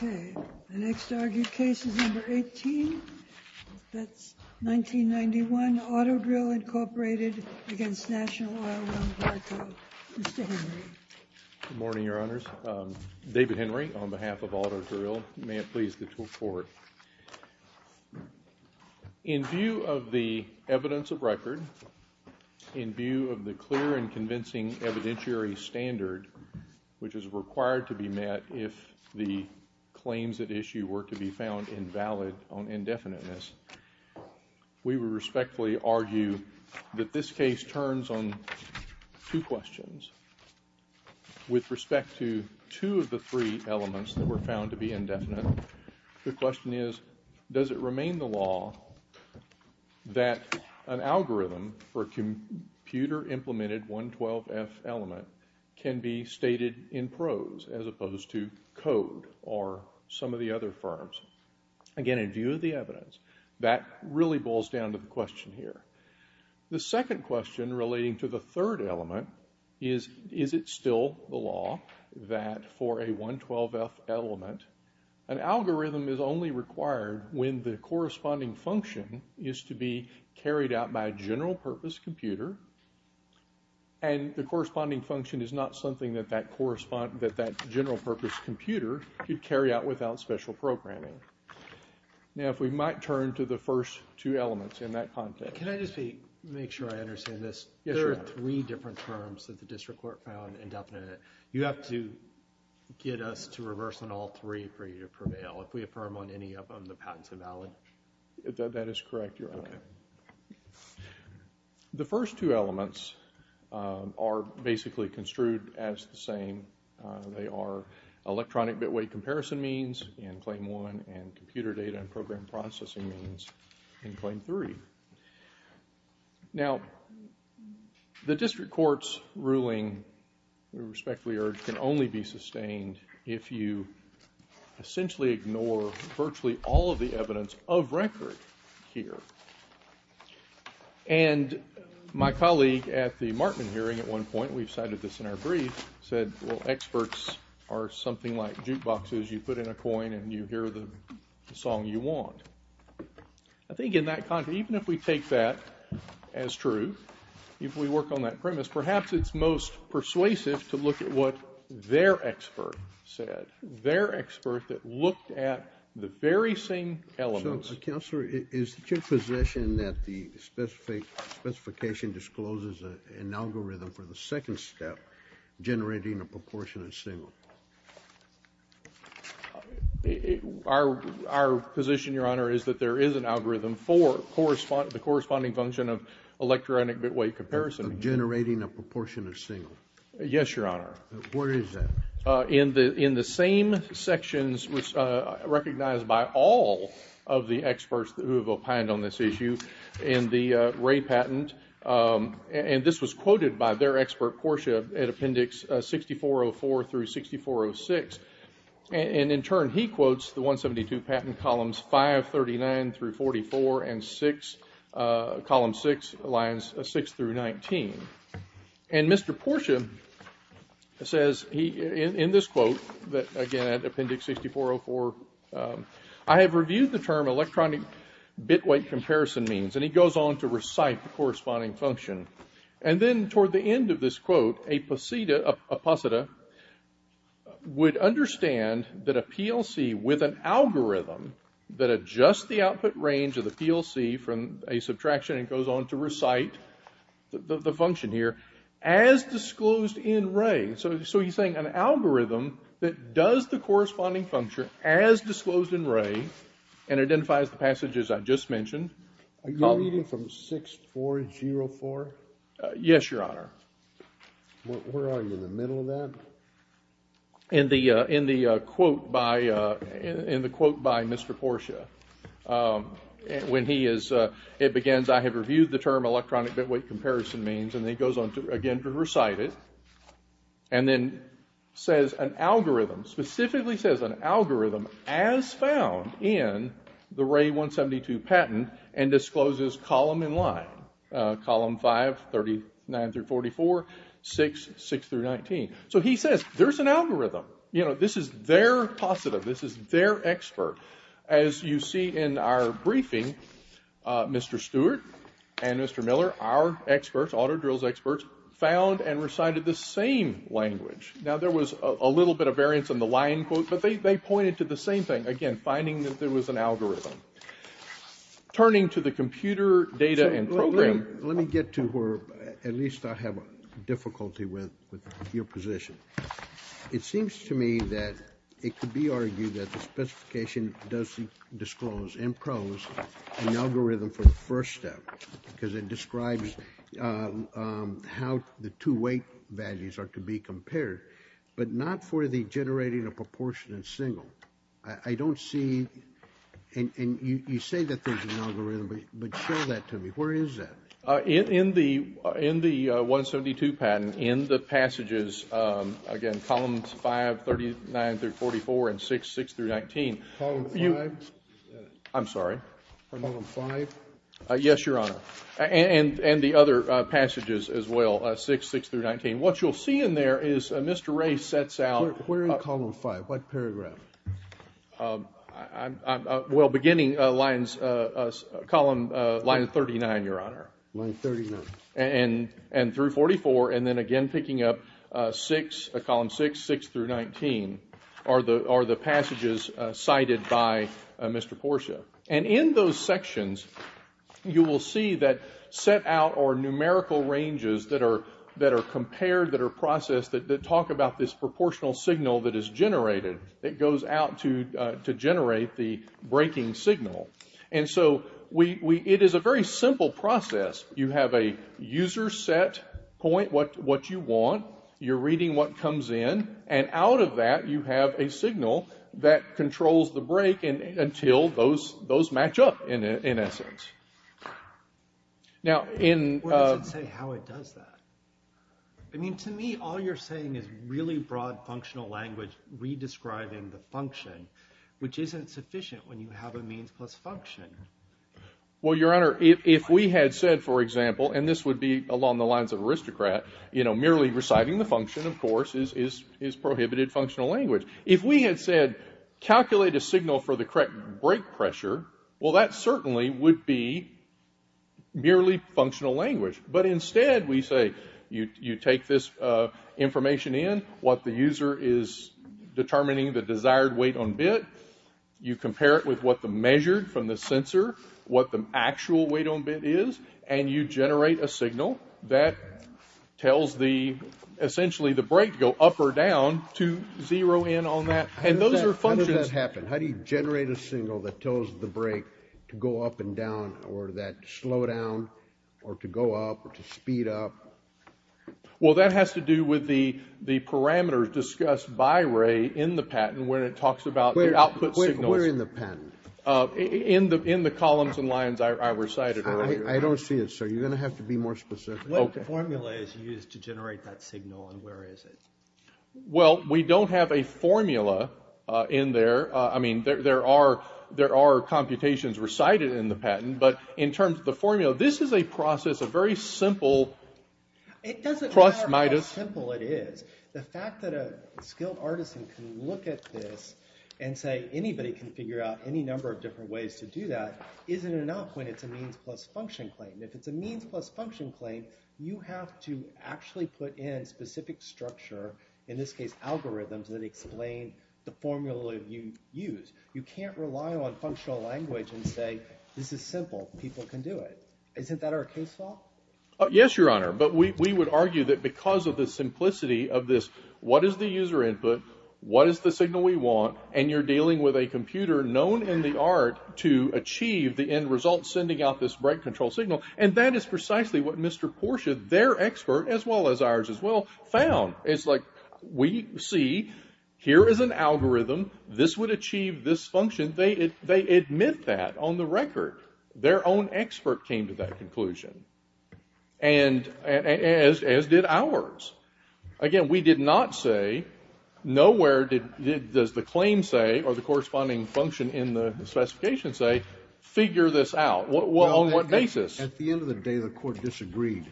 The next argued case is No. 18, that's 1991, Auto-Drill, Inc. v. National Oilwell Varco. Mr. Henry. Good morning, Your Honors. David Henry on behalf of Auto-Drill. May it please the Court. In view of the evidence of record, in view of the clear and convincing evidentiary standard, which is required to be met if the claims at issue were to be found invalid on indefiniteness, we would respectfully argue that this case turns on two questions. With respect to two of the three elements that were found to be indefinite, the question is, does it remain the law that an algorithm for a computer-implemented 112F element can be stated in prose as opposed to code or some of the other forms? Again, in view of the evidence, that really boils down to the question here. The second question relating to the third element is, is it still the law that for a 112F element, an algorithm is only required when the corresponding function is to be carried out by a general-purpose computer and the corresponding function is not something that that general-purpose computer could carry out without special programming? Now, if we might turn to the first two elements in that context. Can I just make sure I understand this? Yes, Your Honor. There are three different terms that the District Court found indefinite. You have to get us to reverse on all three for you to prevail. If we affirm on any of them, the patent's invalid? That is correct, Your Honor. Okay. The first two elements are basically construed as the same. They are electronic bit-weight comparison means in Claim 1 and computer data and program processing means in Claim 3. Now, the District Court's ruling, we respectfully urge, can only be sustained if you essentially ignore virtually all of the evidence of record here. And my colleague at the Markman hearing at one point, we've cited this in our brief, said, well, experts are something like jukeboxes. You put in a coin and you hear the song you want. I think in that context, even if we take that as true, if we work on that premise, perhaps it's most persuasive to look at what their expert said, their expert that looked at the very same elements. Counselor, is it your position that the specification discloses an algorithm for the second step, generating a proportionate signal? Our position, Your Honor, is that there is an algorithm for the corresponding function of electronic bit-weight comparison. Generating a proportionate signal. Yes, Your Honor. Where is that? In the same sections recognized by all of the experts who have opined on this issue in the Ray patent, and this was quoted by their expert, Portia, at Appendix 6404-6406. And in turn, he quotes the 172 patent columns 539-44 and column 6, lines 6-19. And Mr. Portia says, in this quote, again, at Appendix 6404, I have reviewed the term electronic bit-weight comparison means, and he goes on to recite the corresponding function. And then toward the end of this quote, a possida would understand that a PLC with an algorithm that adjusts the output range of the PLC from a subtraction and goes on to recite the function here as disclosed in Ray. So he's saying an algorithm that does the corresponding function as disclosed in Ray and identifies the passages I just mentioned. Are you reading from 6404? Yes, Your Honor. Where are you, in the middle of that? In the quote by Mr. Portia. When he is, it begins, I have reviewed the term electronic bit-weight comparison means, and then he goes on again to recite it, and then says an algorithm, specifically says an algorithm as found in the Ray 172 patent and discloses column in line, column 539-44, 6, 6-19. So he says there's an algorithm. You know, this is their posida, this is their expert. As you see in our briefing, Mr. Stewart and Mr. Miller, our experts, auto drills experts, found and recited the same language. Now, there was a little bit of variance in the line quote, but they pointed to the same thing. Again, finding that there was an algorithm. Turning to the computer data and program. Let me get to where at least I have difficulty with your position. It seems to me that it could be argued that the specification does disclose in prose an algorithm for the first step, because it describes how the two weight values are to be compared, but not for the generating a proportionate single. I don't see, and you say that there's an algorithm, but show that to me. Where is that? In the 172 patent, in the passages, again, columns 539-44 and 6, 6-19. Column 5? I'm sorry. Column 5? Yes, Your Honor. And the other passages as well, 6, 6-19. What you'll see in there is Mr. Ray sets out. Where in column 5? What paragraph? Well, beginning lines, column line 39, Your Honor. Line 39. And through 44, and then again picking up 6, column 6, 6-19, are the passages cited by Mr. Portia. And in those sections, you will see that set out are numerical ranges that are compared, that are processed, that talk about this proportional signal that is generated, that goes out to generate the breaking signal. And so it is a very simple process. You have a user set point, what you want. You're reading what comes in. And out of that, you have a signal that controls the break until those match up, in essence. What does it say how it does that? I mean, to me, all you're saying is really broad functional language redescribing the function, which isn't sufficient when you have a means plus function. Well, Your Honor, if we had said, for example, and this would be along the lines of aristocrat, merely reciting the function, of course, is prohibited functional language. If we had said calculate a signal for the correct break pressure, well, that certainly would be merely functional language. But instead, we say you take this information in, what the user is determining the desired weight on bit, you compare it with what the measured from the sensor, what the actual weight on bit is, and you generate a signal that tells the, essentially, the break to go up or down to zero in on that. And those are functions. How does that happen? How do you generate a signal that tells the break to go up and down or that slow down or to go up or to speed up? Well, that has to do with the parameters discussed by Ray in the patent when it talks about the output signals. Where in the patent? In the columns and lines I recited. I don't see it, sir. You're going to have to be more specific. What formula is used to generate that signal and where is it? Well, we don't have a formula in there. I mean, there are computations recited in the patent, but in terms of the formula, this is a process, a very simple. It doesn't matter how simple it is. The fact that a skilled artisan can look at this and say, anybody can figure out any number of different ways to do that, isn't enough when it's a means plus function claim. If it's a means plus function claim, you have to actually put in specific structure, in this case algorithms that explain the formula you use. You can't rely on functional language and say, this is simple. People can do it. Isn't that our case law? Yes, Your Honor. But we would argue that because of the simplicity of this, what is the user input, what is the signal we want, and you're dealing with a computer known in the art to achieve the end result sending out this break control signal, and that is precisely what Mr. Portia, their expert, as well as ours as well, found. It's like we see here is an algorithm. This would achieve this function. They admit that on the record. Their own expert came to that conclusion, and as did ours. Again, we did not say, nowhere does the claim say or the corresponding function in the specification say, figure this out. On what basis? At the end of the day, the Court disagreed,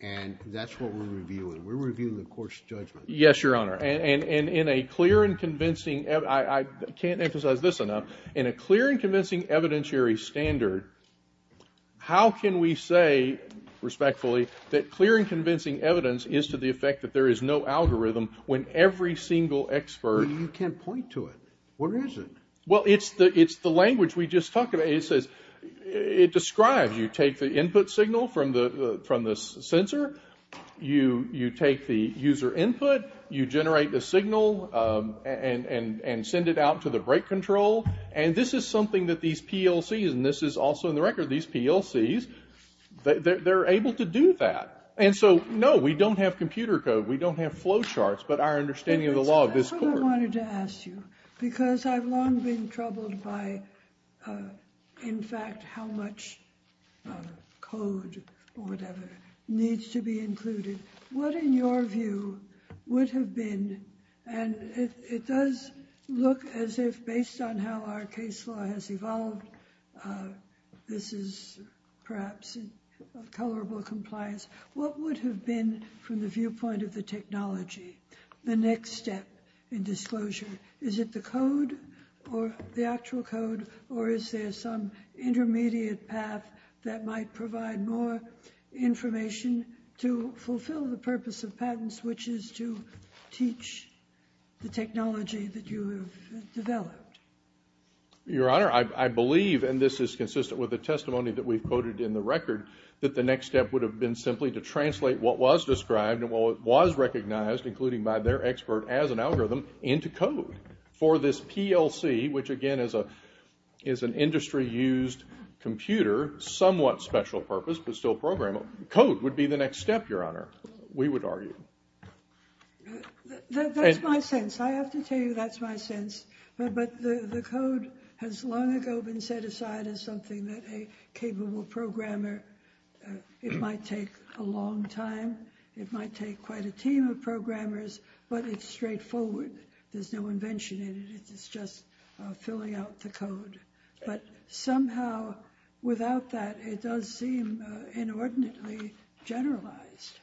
and that's what we're reviewing. We're reviewing the Court's judgment. Yes, Your Honor. And in a clear and convincing, I can't emphasize this enough, in a clear and convincing evidentiary standard, how can we say respectfully that clear and convincing evidence is to the effect that there is no algorithm when every single expert. You can't point to it. Where is it? Well, it's the language we just talked about. It describes. You take the input signal from the sensor. You take the user input. You generate the signal and send it out to the brake control. And this is something that these PLCs, and this is also in the record, these PLCs, they're able to do that. And so, no, we don't have computer code. We don't have flow charts, but our understanding of the law of this Court. That's what I wanted to ask you, because I've long been troubled by, in fact, how much code or whatever needs to be included. What, in your view, would have been, and it does look as if based on how our case law has evolved, this is perhaps colorable compliance. What would have been, from the viewpoint of the technology, the next step in disclosure? Is it the code or the actual code, or is there some intermediate path that might provide more information to fulfill the purpose of patents, which is to teach the technology that you have developed? Your Honor, I believe, and this is consistent with the testimony that we've quoted in the record, that the next step would have been simply to translate what was described and what was recognized, including by their expert as an algorithm, into code. For this PLC, which, again, is an industry-used computer, somewhat special purpose, but still programmable, code would be the next step, Your Honor, we would argue. That's my sense. I have to tell you that's my sense. But the code has long ago been set aside as something that a capable programmer, it might take a long time, it might take quite a team of programmers, but it's straightforward. There's no invention in it. It's just filling out the code. But somehow, without that, it does seem inordinately generalized.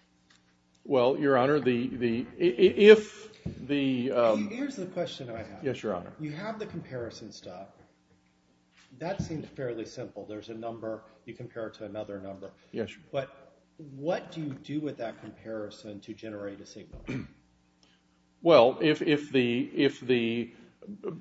Well, Your Honor, if the... Here's the question I have. Yes, Your Honor. You have the comparison stuff. That seems fairly simple. There's a number, you compare it to another number. Yes, Your Honor. But what do you do with that comparison to generate a signal? Well, if the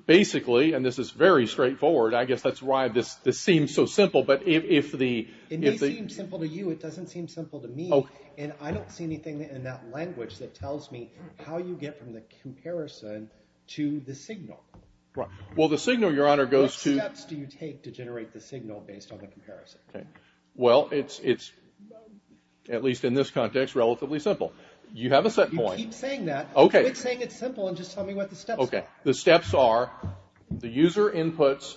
basically, and this is very straightforward, I guess that's why this seems so simple, but if the... It may seem simple to you. It doesn't seem simple to me. And I don't see anything in that language that tells me how you get from the comparison to the signal. Well, the signal, Your Honor, goes to... What steps do you take to generate the signal based on the comparison? Well, it's, at least in this context, relatively simple. You have a set point. You keep saying that. Okay. Quit saying it's simple and just tell me what the steps are. Okay. The steps are, the user inputs,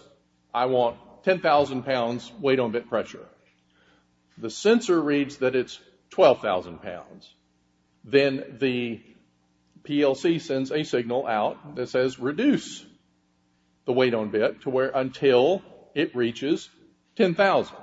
I want 10,000 pounds weight-on-bit pressure. The sensor reads that it's 12,000 pounds. Then the PLC sends a signal out that says, Reduce the weight-on-bit until it reaches 10,000.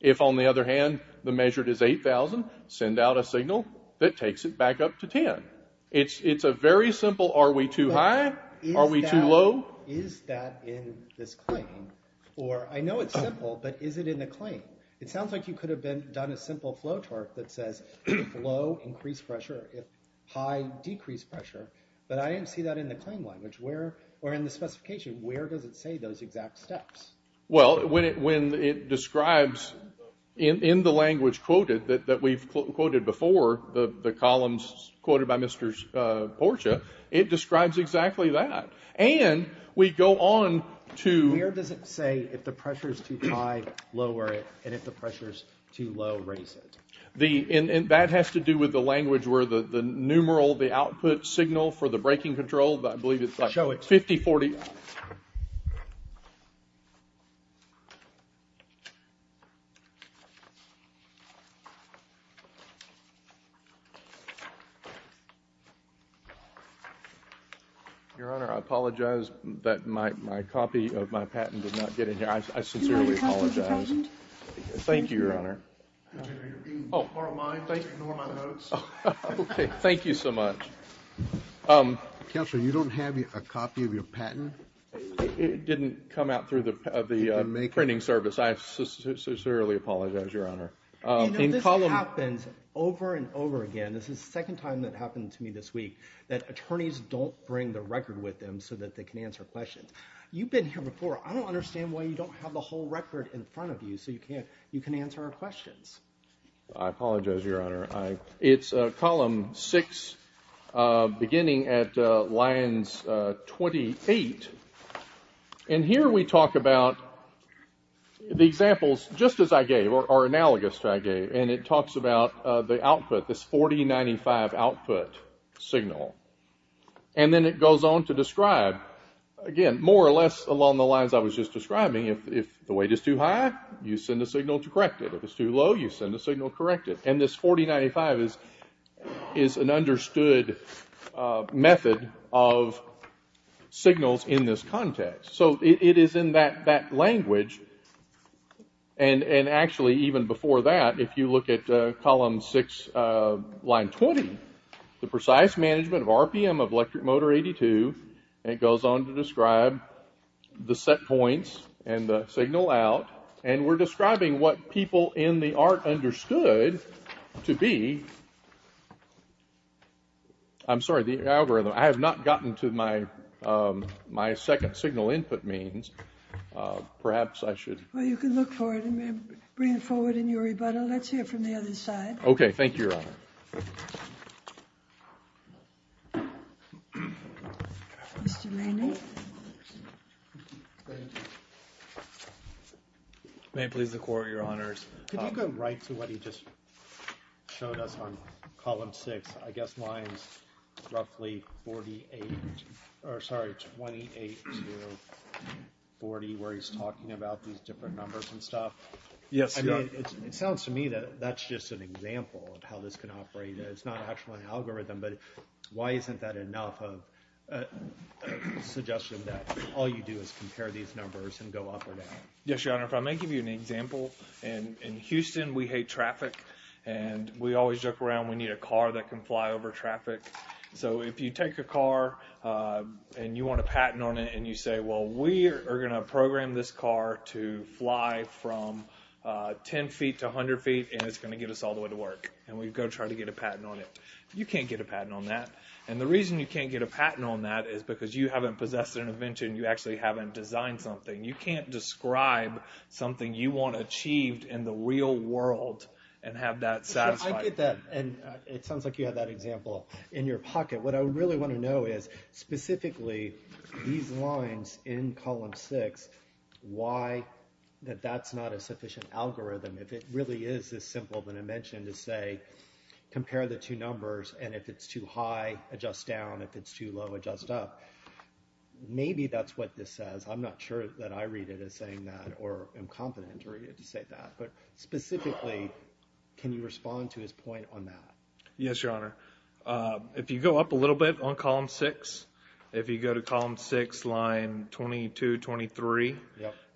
If, on the other hand, the measured is 8,000, send out a signal that takes it back up to 10. It's a very simple, Are we too high? Are we too low? Is that in this claim? Or, I know it's simple, but is it in the claim? It sounds like you could have done a simple flow chart that says, If low, increase pressure. If high, decrease pressure. But I didn't see that in the claim language, or in the specification. Where does it say those exact steps? Well, when it describes, in the language quoted, that we've quoted before, the columns quoted by Mr. Portia, it describes exactly that. And we go on to, Where does it say if the pressure is too high, lower it, and if the pressure is too low, raise it? That has to do with the language where the numeral, the output signal for the braking control, I believe it's like 50, 40. Your Honor, I apologize, but my copy of my patent did not get in here. I sincerely apologize. Thank you, Your Honor. Okay, thank you so much. Counsel, you don't have a copy of your patent? It didn't come out through the printing service. I sincerely apologize, Your Honor. You know, this happens over and over again. This is the second time that happened to me this week, that attorneys don't bring the record with them so that they can answer questions. You've been here before. I don't understand why you don't have the whole record in front of you so you can answer our questions. I apologize, Your Honor. It's column 6, beginning at lines 28. And here we talk about the examples just as I gave or analogous to what I gave, and it talks about the output, this 4095 output signal. And then it goes on to describe, again, more or less along the lines I was just describing. If the weight is too high, you send a signal to correct it. If it's too low, you send a signal to correct it. And this 4095 is an understood method of signals in this context. So it is in that language. And actually, even before that, if you look at column 6, line 20, the precise management of RPM of electric motor 82, and it goes on to describe the set points and the signal out. And we're describing what people in the art understood to be. I'm sorry, the algorithm. I have not gotten to my second signal input means. Perhaps I should. Well, you can look for it and bring it forward in your rebuttal. Let's hear it from the other side. Okay, thank you, Your Honor. Thank you. Mr. Manning. May it please the Court, Your Honors. Could you go right to what he just showed us on column 6? I guess lines roughly 28 to 40, where he's talking about these different numbers and stuff. Yes, Your Honor. It sounds to me that that's just an example of how this can operate. It's not actually an algorithm, but why isn't that enough of a suggestion that all you do is compare these numbers and go up or down? Yes, Your Honor. If I may give you an example. In Houston, we hate traffic, and we always joke around, we need a car that can fly over traffic. So if you take a car and you want a patent on it and you say, well, we are going to program this car to fly from 10 feet to 100 feet, and it's going to get us all the way to work. And we go try to get a patent on it. You can't get a patent on that. And the reason you can't get a patent on that is because you haven't possessed an invention. You actually haven't designed something. You can't describe something you want achieved in the real world and have that satisfied. I get that, and it sounds like you have that example in your pocket. What I really want to know is, specifically, these lines in column six, why that that's not a sufficient algorithm. If it really is this simple of an invention to say, compare the two numbers, and if it's too high, adjust down. If it's too low, adjust up. Maybe that's what this says. I'm not sure that I read it as saying that or am confident to read it to say that. But specifically, can you respond to his point on that? Yes, Your Honor. If you go up a little bit on column six, if you go to column six, line 22-23,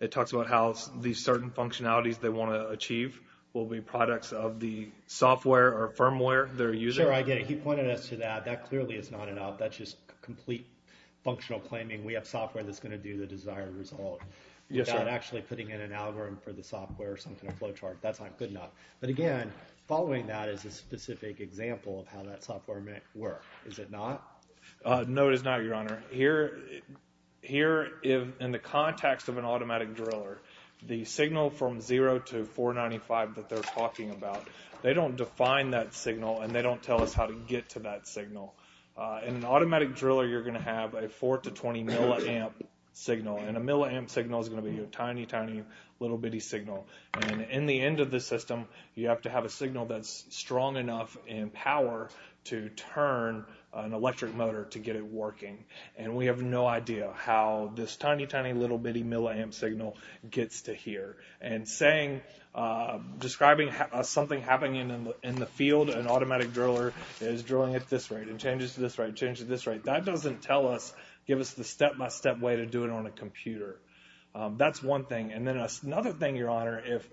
it talks about how these certain functionalities they want to achieve will be products of the software or firmware they're using. Sure, I get it. He pointed us to that. That clearly is not enough. That's just complete functional claiming we have software that's going to do the desired result without actually putting in an algorithm for the software or some kind of flowchart. That's not good enough. But again, following that is a specific example of how that software might work. Is it not? No, it is not, Your Honor. Here, in the context of an automatic driller, the signal from 0 to 495 that they're talking about, they don't define that signal, and they don't tell us how to get to that signal. In an automatic driller, you're going to have a 4-20 milliamp signal, and a milliamp signal is going to be a tiny, tiny, little bitty signal. And in the end of the system, you have to have a signal that's strong enough in power to turn an electric motor to get it working. And we have no idea how this tiny, tiny, little bitty milliamp signal gets to here. And saying, describing something happening in the field, an automatic driller is drilling at this rate and changes to this rate and changes to this rate, that doesn't tell us, give us the step-by-step way to do it on a computer. That's one thing. And then another thing, Your Honor, if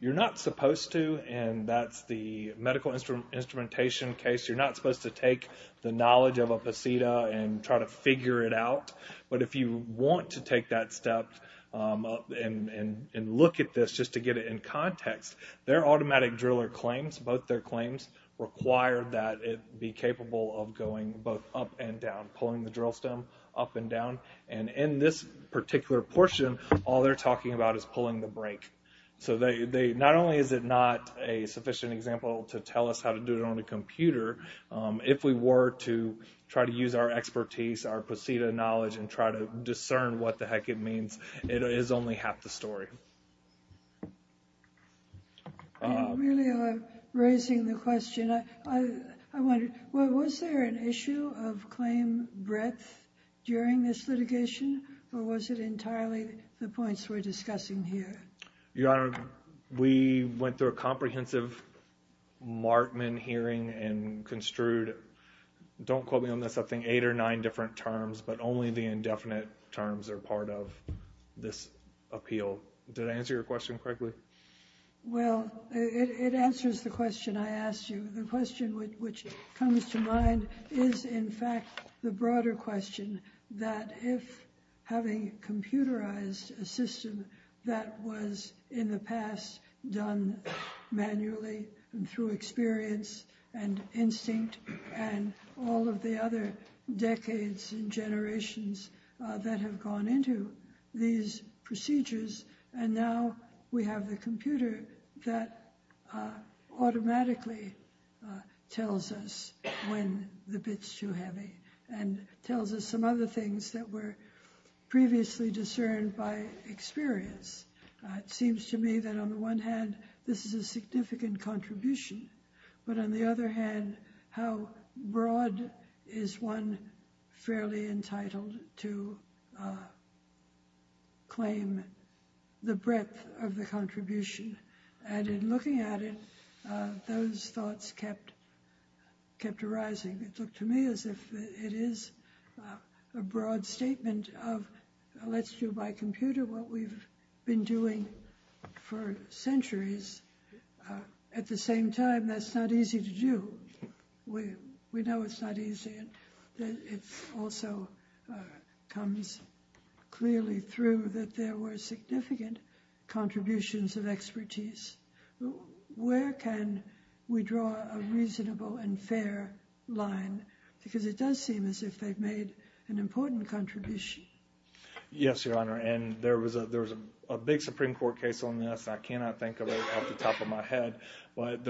you're not supposed to, and that's the medical instrumentation case, you're not supposed to take the knowledge of a posita and try to figure it out. But if you want to take that step and look at this just to get it in context, their automatic driller claims, both their claims, require that it be capable of going both up and down, pulling the drill stem up and down. And in this particular portion, all they're talking about is pulling the brake. So not only is it not a sufficient example to tell us how to do it on a computer, if we were to try to use our expertise, our posita knowledge, and try to discern what the heck it means, it is only half the story. Thank you. Really raising the question, I wonder, was there an issue of claim breadth during this litigation, or was it entirely the points we're discussing here? Your Honor, we went through a comprehensive Martman hearing and construed, don't quote me on this, I think eight or nine different terms, but only the indefinite terms are part of this appeal. Did I answer your question correctly? Well, it answers the question I asked you. The question which comes to mind is in fact the broader question that if having computerized a system that was in the past done manually and through experience and instinct and all of the other decades and generations that have gone into these procedures, and now we have the computer that automatically tells us when the bit's too heavy and tells us some other things that were previously discerned by experience. It seems to me that on the one hand, this is a significant contribution, but on the other hand, how broad is one fairly entitled to claim the breadth of the contribution? And in looking at it, those thoughts kept arising. It looked to me as if it is a broad statement of, let's do by computer what we've been doing for centuries. At the same time, that's not easy to do. We know it's not easy. It also comes clearly through that there were significant contributions of expertise. Where can we draw a reasonable and fair line? Because it does seem as if they've made an important contribution. Yes, Your Honor, and there was a big Supreme Court case on this. I cannot think of it off the top of my head, but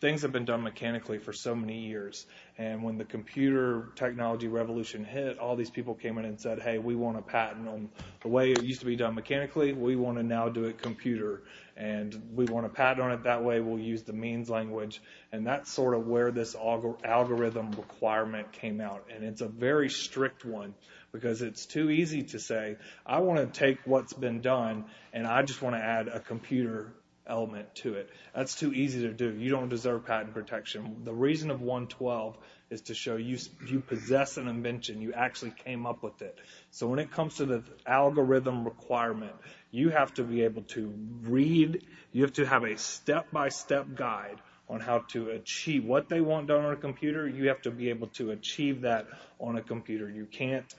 things have been done mechanically for so many years. And when the computer technology revolution hit, all these people came in and said, hey, we want to patent them. The way it used to be done mechanically, we want to now do it computer. And we want to patent on it that way we'll use the means language. And that's sort of where this algorithm requirement came out. And it's a very strict one because it's too easy to say, I want to take what's been done and I just want to add a computer element to it. That's too easy to do. You don't deserve patent protection. The reason of 112 is to show you possess an invention. You actually came up with it. So when it comes to the algorithm requirement, you have to be able to read. You have to have a step-by-step guide on how to achieve. What they want done on a computer, you have to be able to achieve that on a computer. You can't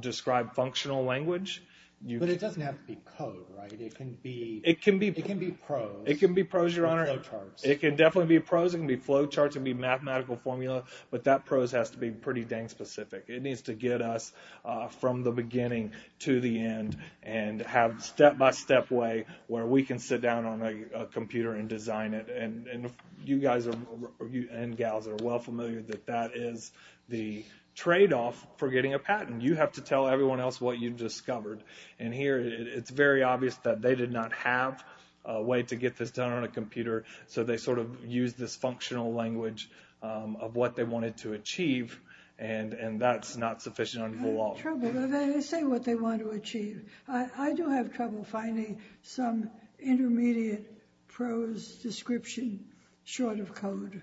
describe functional language. But it doesn't have to be code, right? It can be prose. It can be prose, Your Honor. It can definitely be prose. It can be flow charts. It can be mathematical formula. But that prose has to be pretty dang specific. It needs to get us from the beginning to the end and have step-by-step way where we can sit down on a computer and design it. And you guys and gals are well familiar that that is the tradeoff for getting a patent. You have to tell everyone else what you've discovered. And here it's very obvious that they did not have a way to get this done on a computer. So they sort of used this functional language of what they wanted to achieve. And that's not sufficient under the law. They say what they want to achieve. I do have trouble finding some intermediate prose description short of code.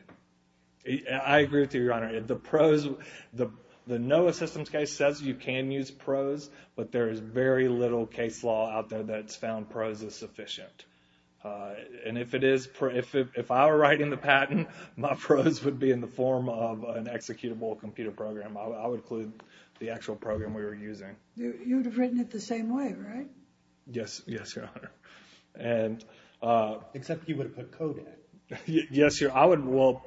I agree with you, Your Honor. The prose, the NOAA systems case says you can use prose, but there is very little case law out there that's found prose is sufficient. And if it is, if I were writing the patent, my prose would be in the form of an executable computer program. I would include the actual program we were using. You would have written it the same way, right? Yes, Your Honor. Except you would have put code in it. Yes, Your Honor. Well,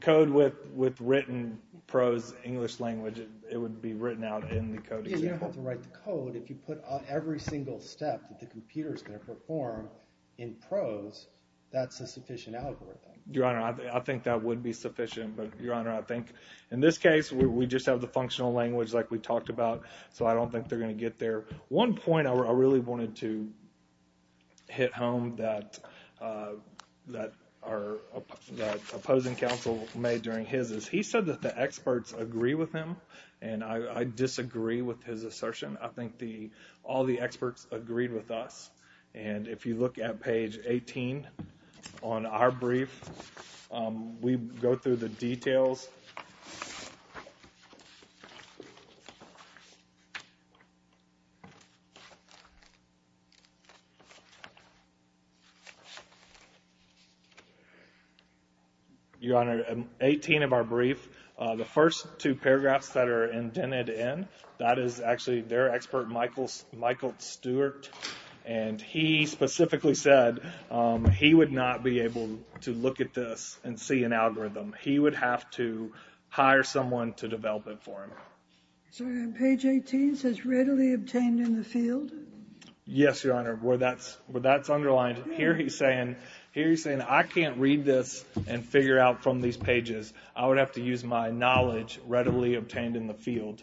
code with written prose English language, it would be written out in the code itself. You don't have to write the code. If you put every single step that the computer is going to perform in prose, that's a sufficient algorithm. Your Honor, I think that would be sufficient. But, Your Honor, I think in this case we just have the functional language like we talked about, so I don't think they're going to get there. One point I really wanted to hit home that our opposing counsel made during his is he said that the experts agree with him, and I disagree with his assertion. I think all the experts agreed with us. And if you look at page 18 on our brief, we go through the details. Your Honor, 18 of our brief, the first two paragraphs that are indented in, that is actually their expert, Michael Stewart, and he specifically said he would not be able to look at this and see an algorithm. He would have to hire someone to develop it for him. So page 18 says readily obtained in the field? Yes, Your Honor, where that's underlined. Here he's saying I can't read this and figure out from these pages. I would have to use my knowledge readily obtained in the field.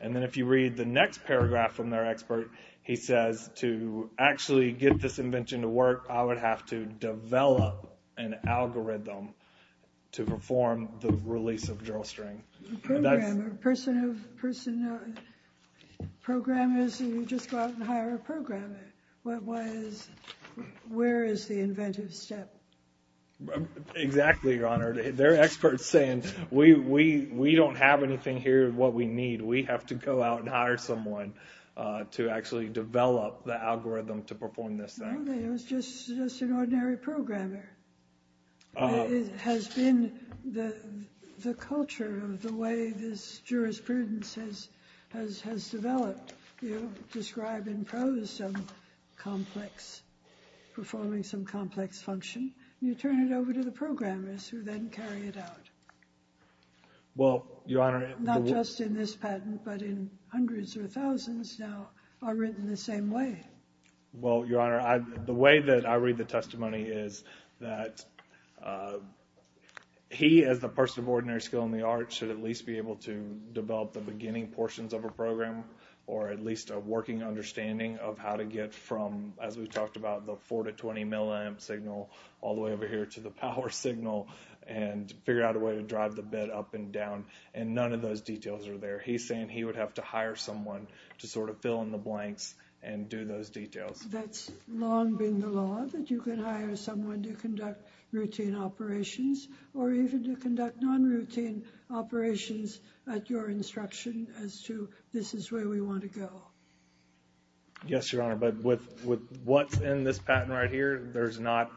And then if you read the next paragraph from their expert, he says to actually get this invention to work, I would have to develop an algorithm to perform the release of drill string. Program, person of person, program is you just go out and hire a programmer. What was, where is the inventive step? Exactly, Your Honor. They're experts saying we don't have anything here what we need. We have to go out and hire someone to actually develop the algorithm to perform this thing. It was just an ordinary programmer. It has been the culture of the way this jurisprudence has developed. You describe in prose some complex, performing some complex function. You turn it over to the programmers who then carry it out. Well, Your Honor. Not just in this patent, but in hundreds or thousands now are written the same way. Well, Your Honor, the way that I read the testimony is that he, as the person of ordinary skill in the art, should at least be able to develop the beginning portions of a program or at least a working understanding of how to get from, as we talked about, the 4 to 20 milliamp signal all the way over here to the power signal and figure out a way to drive the bed up and down. And none of those details are there. He's saying he would have to hire someone to sort of fill in the blanks and do those details. That's long been the law, that you can hire someone to conduct routine operations or even to conduct non-routine operations at your instruction as to this is where we want to go. Yes, Your Honor. But with what's in this patent right here, there's not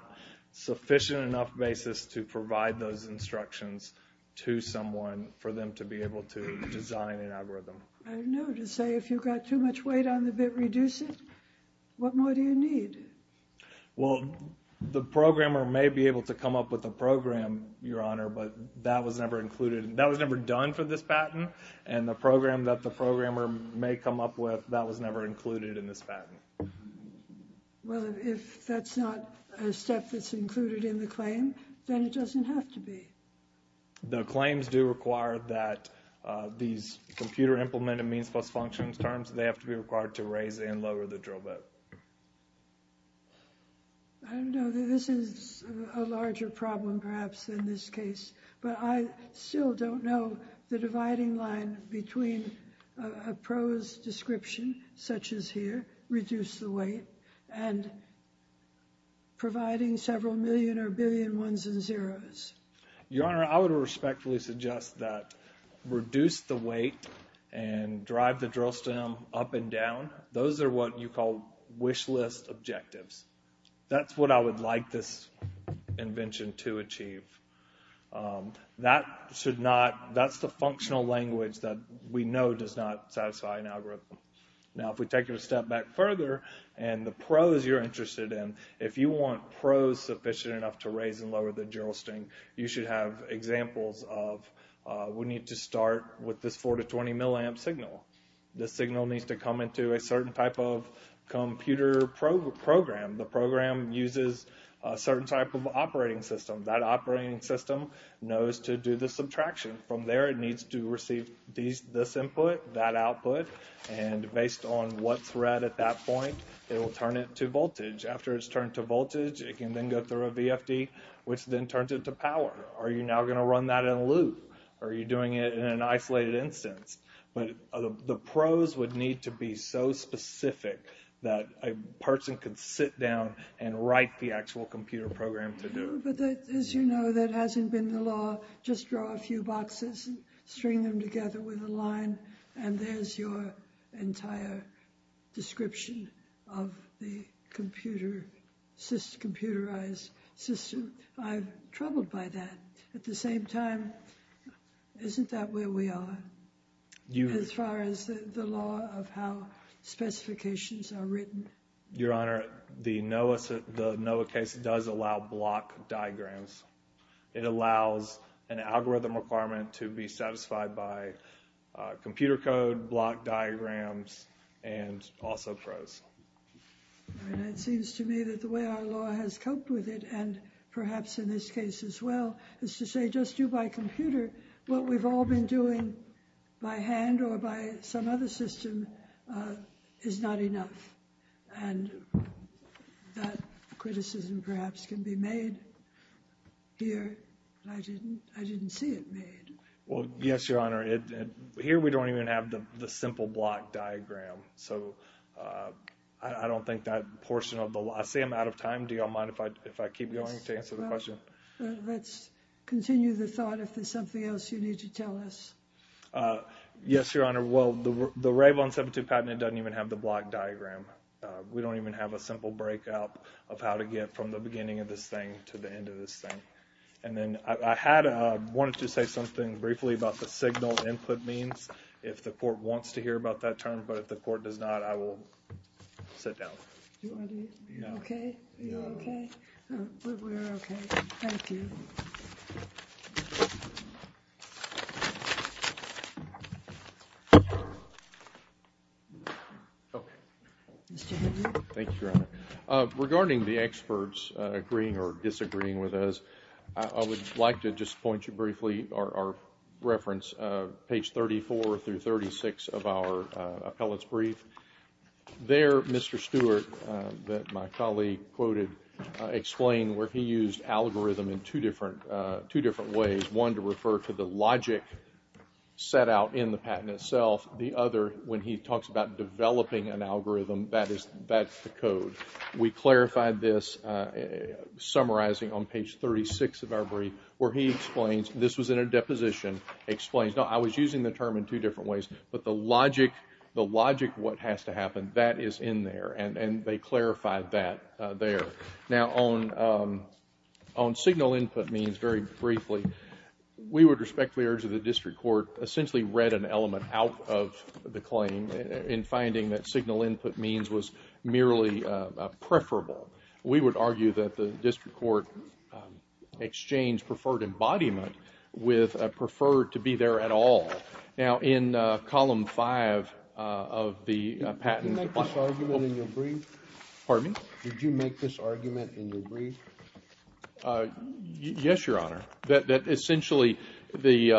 sufficient enough basis to provide those instructions to someone for them to be able to design an algorithm. I know. To say if you've got too much weight on the bed, reduce it. What more do you need? Well, the programmer may be able to come up with a program, Your Honor, but that was never included. That was never done for this patent. And the program that the programmer may come up with, that was never included in this patent. Well, if that's not a step that's included in the claim, then it doesn't have to be. The claims do require that these computer implemented means plus functions terms, they have to be required to raise and lower the drill bit. I don't know. This is a larger problem, perhaps, in this case. But I still don't know the dividing line between a pros description, such as here, reduce the weight, and providing several million or billion ones and zeros. Your Honor, I would respectfully suggest that reduce the weight and drive the drill stem up and down. Those are what you call wish list objectives. That's what I would like this invention to achieve. That's the functional language that we know does not satisfy an algorithm. Now, if we take it a step back further and the pros you're interested in, if you want pros sufficient enough to raise and lower the drill stem, you should have examples of we need to start with this 4 to 20 milliamp signal. This signal needs to come into a certain type of computer program. The program uses a certain type of operating system. That operating system knows to do the subtraction. From there, it needs to receive this input, that output, and based on what thread at that point, it will turn it to voltage. After it's turned to voltage, it can then go through a VFD, which then turns it to power. Are you now going to run that in a loop? Are you doing it in an isolated instance? But the pros would need to be so specific that a person could sit down and write the actual computer program to do it. But as you know, that hasn't been the law. Just draw a few boxes, string them together with a line, and there's your entire description of the computerized system. I'm troubled by that. At the same time, isn't that where we are, as far as the law of how specifications are written? Your Honor, the NOAA case does allow block diagrams. It allows an algorithm requirement to be satisfied by computer code, block diagrams, and also pros. It seems to me that the way our law has coped with it, and perhaps in this case as well, is to say just do by computer. What we've all been doing by hand or by some other system is not enough, and that criticism perhaps can be made here. I didn't see it made. Well, yes, Your Honor. Here we don't even have the simple block diagram, so I don't think that portion of the law. I say I'm out of time. Do you all mind if I keep going to answer the question? Let's continue the thought. If there's something else you need to tell us. Yes, Your Honor. Well, the RAVE 172 patent, it doesn't even have the block diagram. We don't even have a simple breakout of how to get from the beginning of this thing to the end of this thing. I wanted to say something briefly about the signal input means. If the court wants to hear about that term, but if the court does not, I will sit down. Are you okay? We're okay. Thank you. Mr. Henry. Thank you, Your Honor. Regarding the experts agreeing or disagreeing with us, I would like to just point you briefly our reference, page 34 through 36 of our appellate's brief. There, Mr. Stewart, that my colleague quoted, explained where he used algorithm in two different ways. One to refer to the logic set out in the patent itself. The other, when he talks about developing an algorithm, that's the code. We clarified this summarizing on page 36 of our brief where he explains, this was in a deposition, explains, no, I was using the term in two different ways, but the logic of what has to happen, that is in there and they clarified that there. Now, on signal input means, very briefly, we would respectfully urge that the district court essentially read an element out of the claim in finding that signal input means was merely preferable. We would argue that the district court exchanged preferred embodiment with preferred to be there at all. Now, in column five of the patent. Did you make this argument in your brief? Pardon me? Did you make this argument in your brief? Yes, Your Honor. That essentially the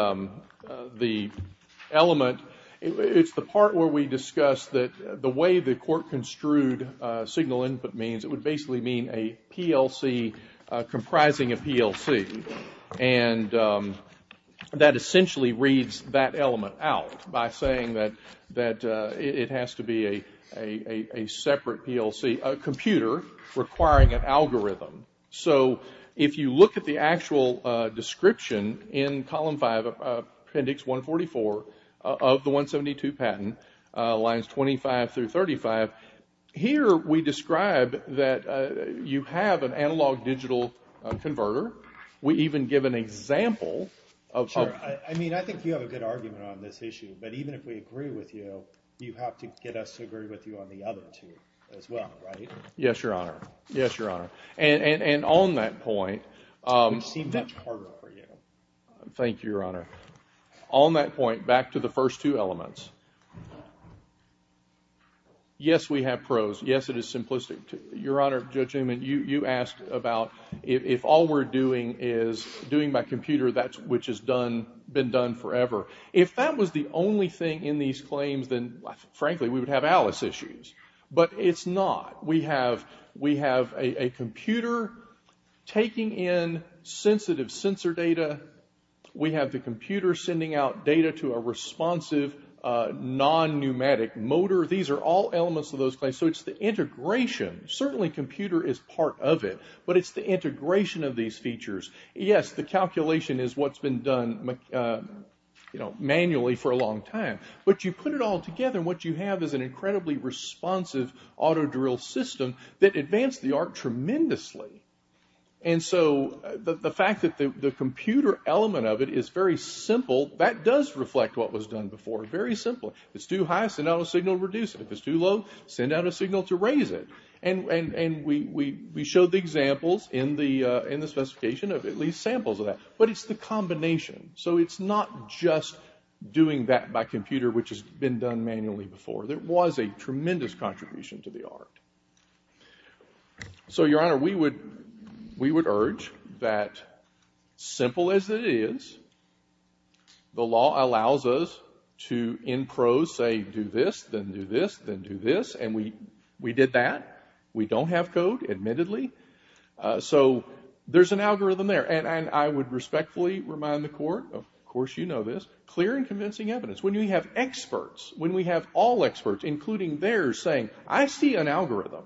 element, it's the part where we discussed that the way the court construed signal input means, it would basically mean a PLC comprising a PLC. And that essentially reads that element out by saying that it has to be a separate PLC, a computer requiring an algorithm. So if you look at the actual description in column five, appendix 144, of the 172 patent, lines 25 through 35, here we describe that you have an analog-digital converter. We even give an example. I mean, I think you have a good argument on this issue, but even if we agree with you, you have to get us to agree with you on the other two as well, right? Yes, Your Honor. Yes, Your Honor. And on that point. It would seem much harder for you. Thank you, Your Honor. On that point, back to the first two elements. Yes, we have pros. Yes, it is simplistic. Your Honor, Judge Newman, you asked about if all we're doing is doing by computer, that's which has been done forever. If that was the only thing in these claims, then frankly, we would have Alice issues. But it's not. We have a computer taking in sensitive sensor data. We have the computer sending out data to a responsive non-pneumatic motor. These are all elements of those claims, so it's the integration. Certainly, computer is part of it, but it's the integration of these features. Yes, the calculation is what's been done manually for a long time, but you put it all together, and what you have is an incredibly responsive auto-drill system that advanced the art tremendously. The fact that the computer element of it is very simple, that does reflect what was done before very simply. If it's too high, send out a signal to reduce it. If it's too low, send out a signal to raise it. We showed the examples in the specification of at least samples of that, but it's the combination, so it's not just doing that by computer, There was a tremendous contribution to the art. So, Your Honor, we would urge that, simple as it is, the law allows us to, in prose, say, do this, then do this, then do this, and we did that. We don't have code, admittedly, so there's an algorithm there, and I would respectfully remind the Court, of course you know this, clear and convincing evidence. When we have experts, when we have all experts, including theirs, saying, I see an algorithm.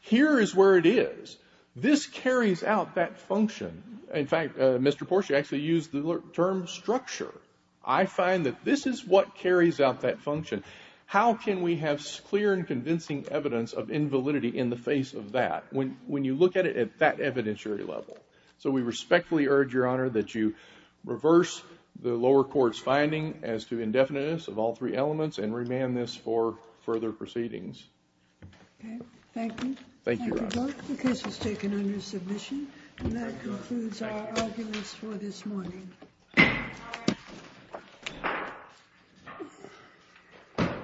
Here is where it is. This carries out that function. In fact, Mr. Porsche actually used the term structure. I find that this is what carries out that function. How can we have clear and convincing evidence of invalidity in the face of that, when you look at it at that evidentiary level? So we respectfully urge, Your Honor, that you reverse the lower court's finding as to indefiniteness of all three elements and remand this for further proceedings. Thank you. Thank you, Your Honor. The case is taken under submission, and that concludes our arguments for this morning.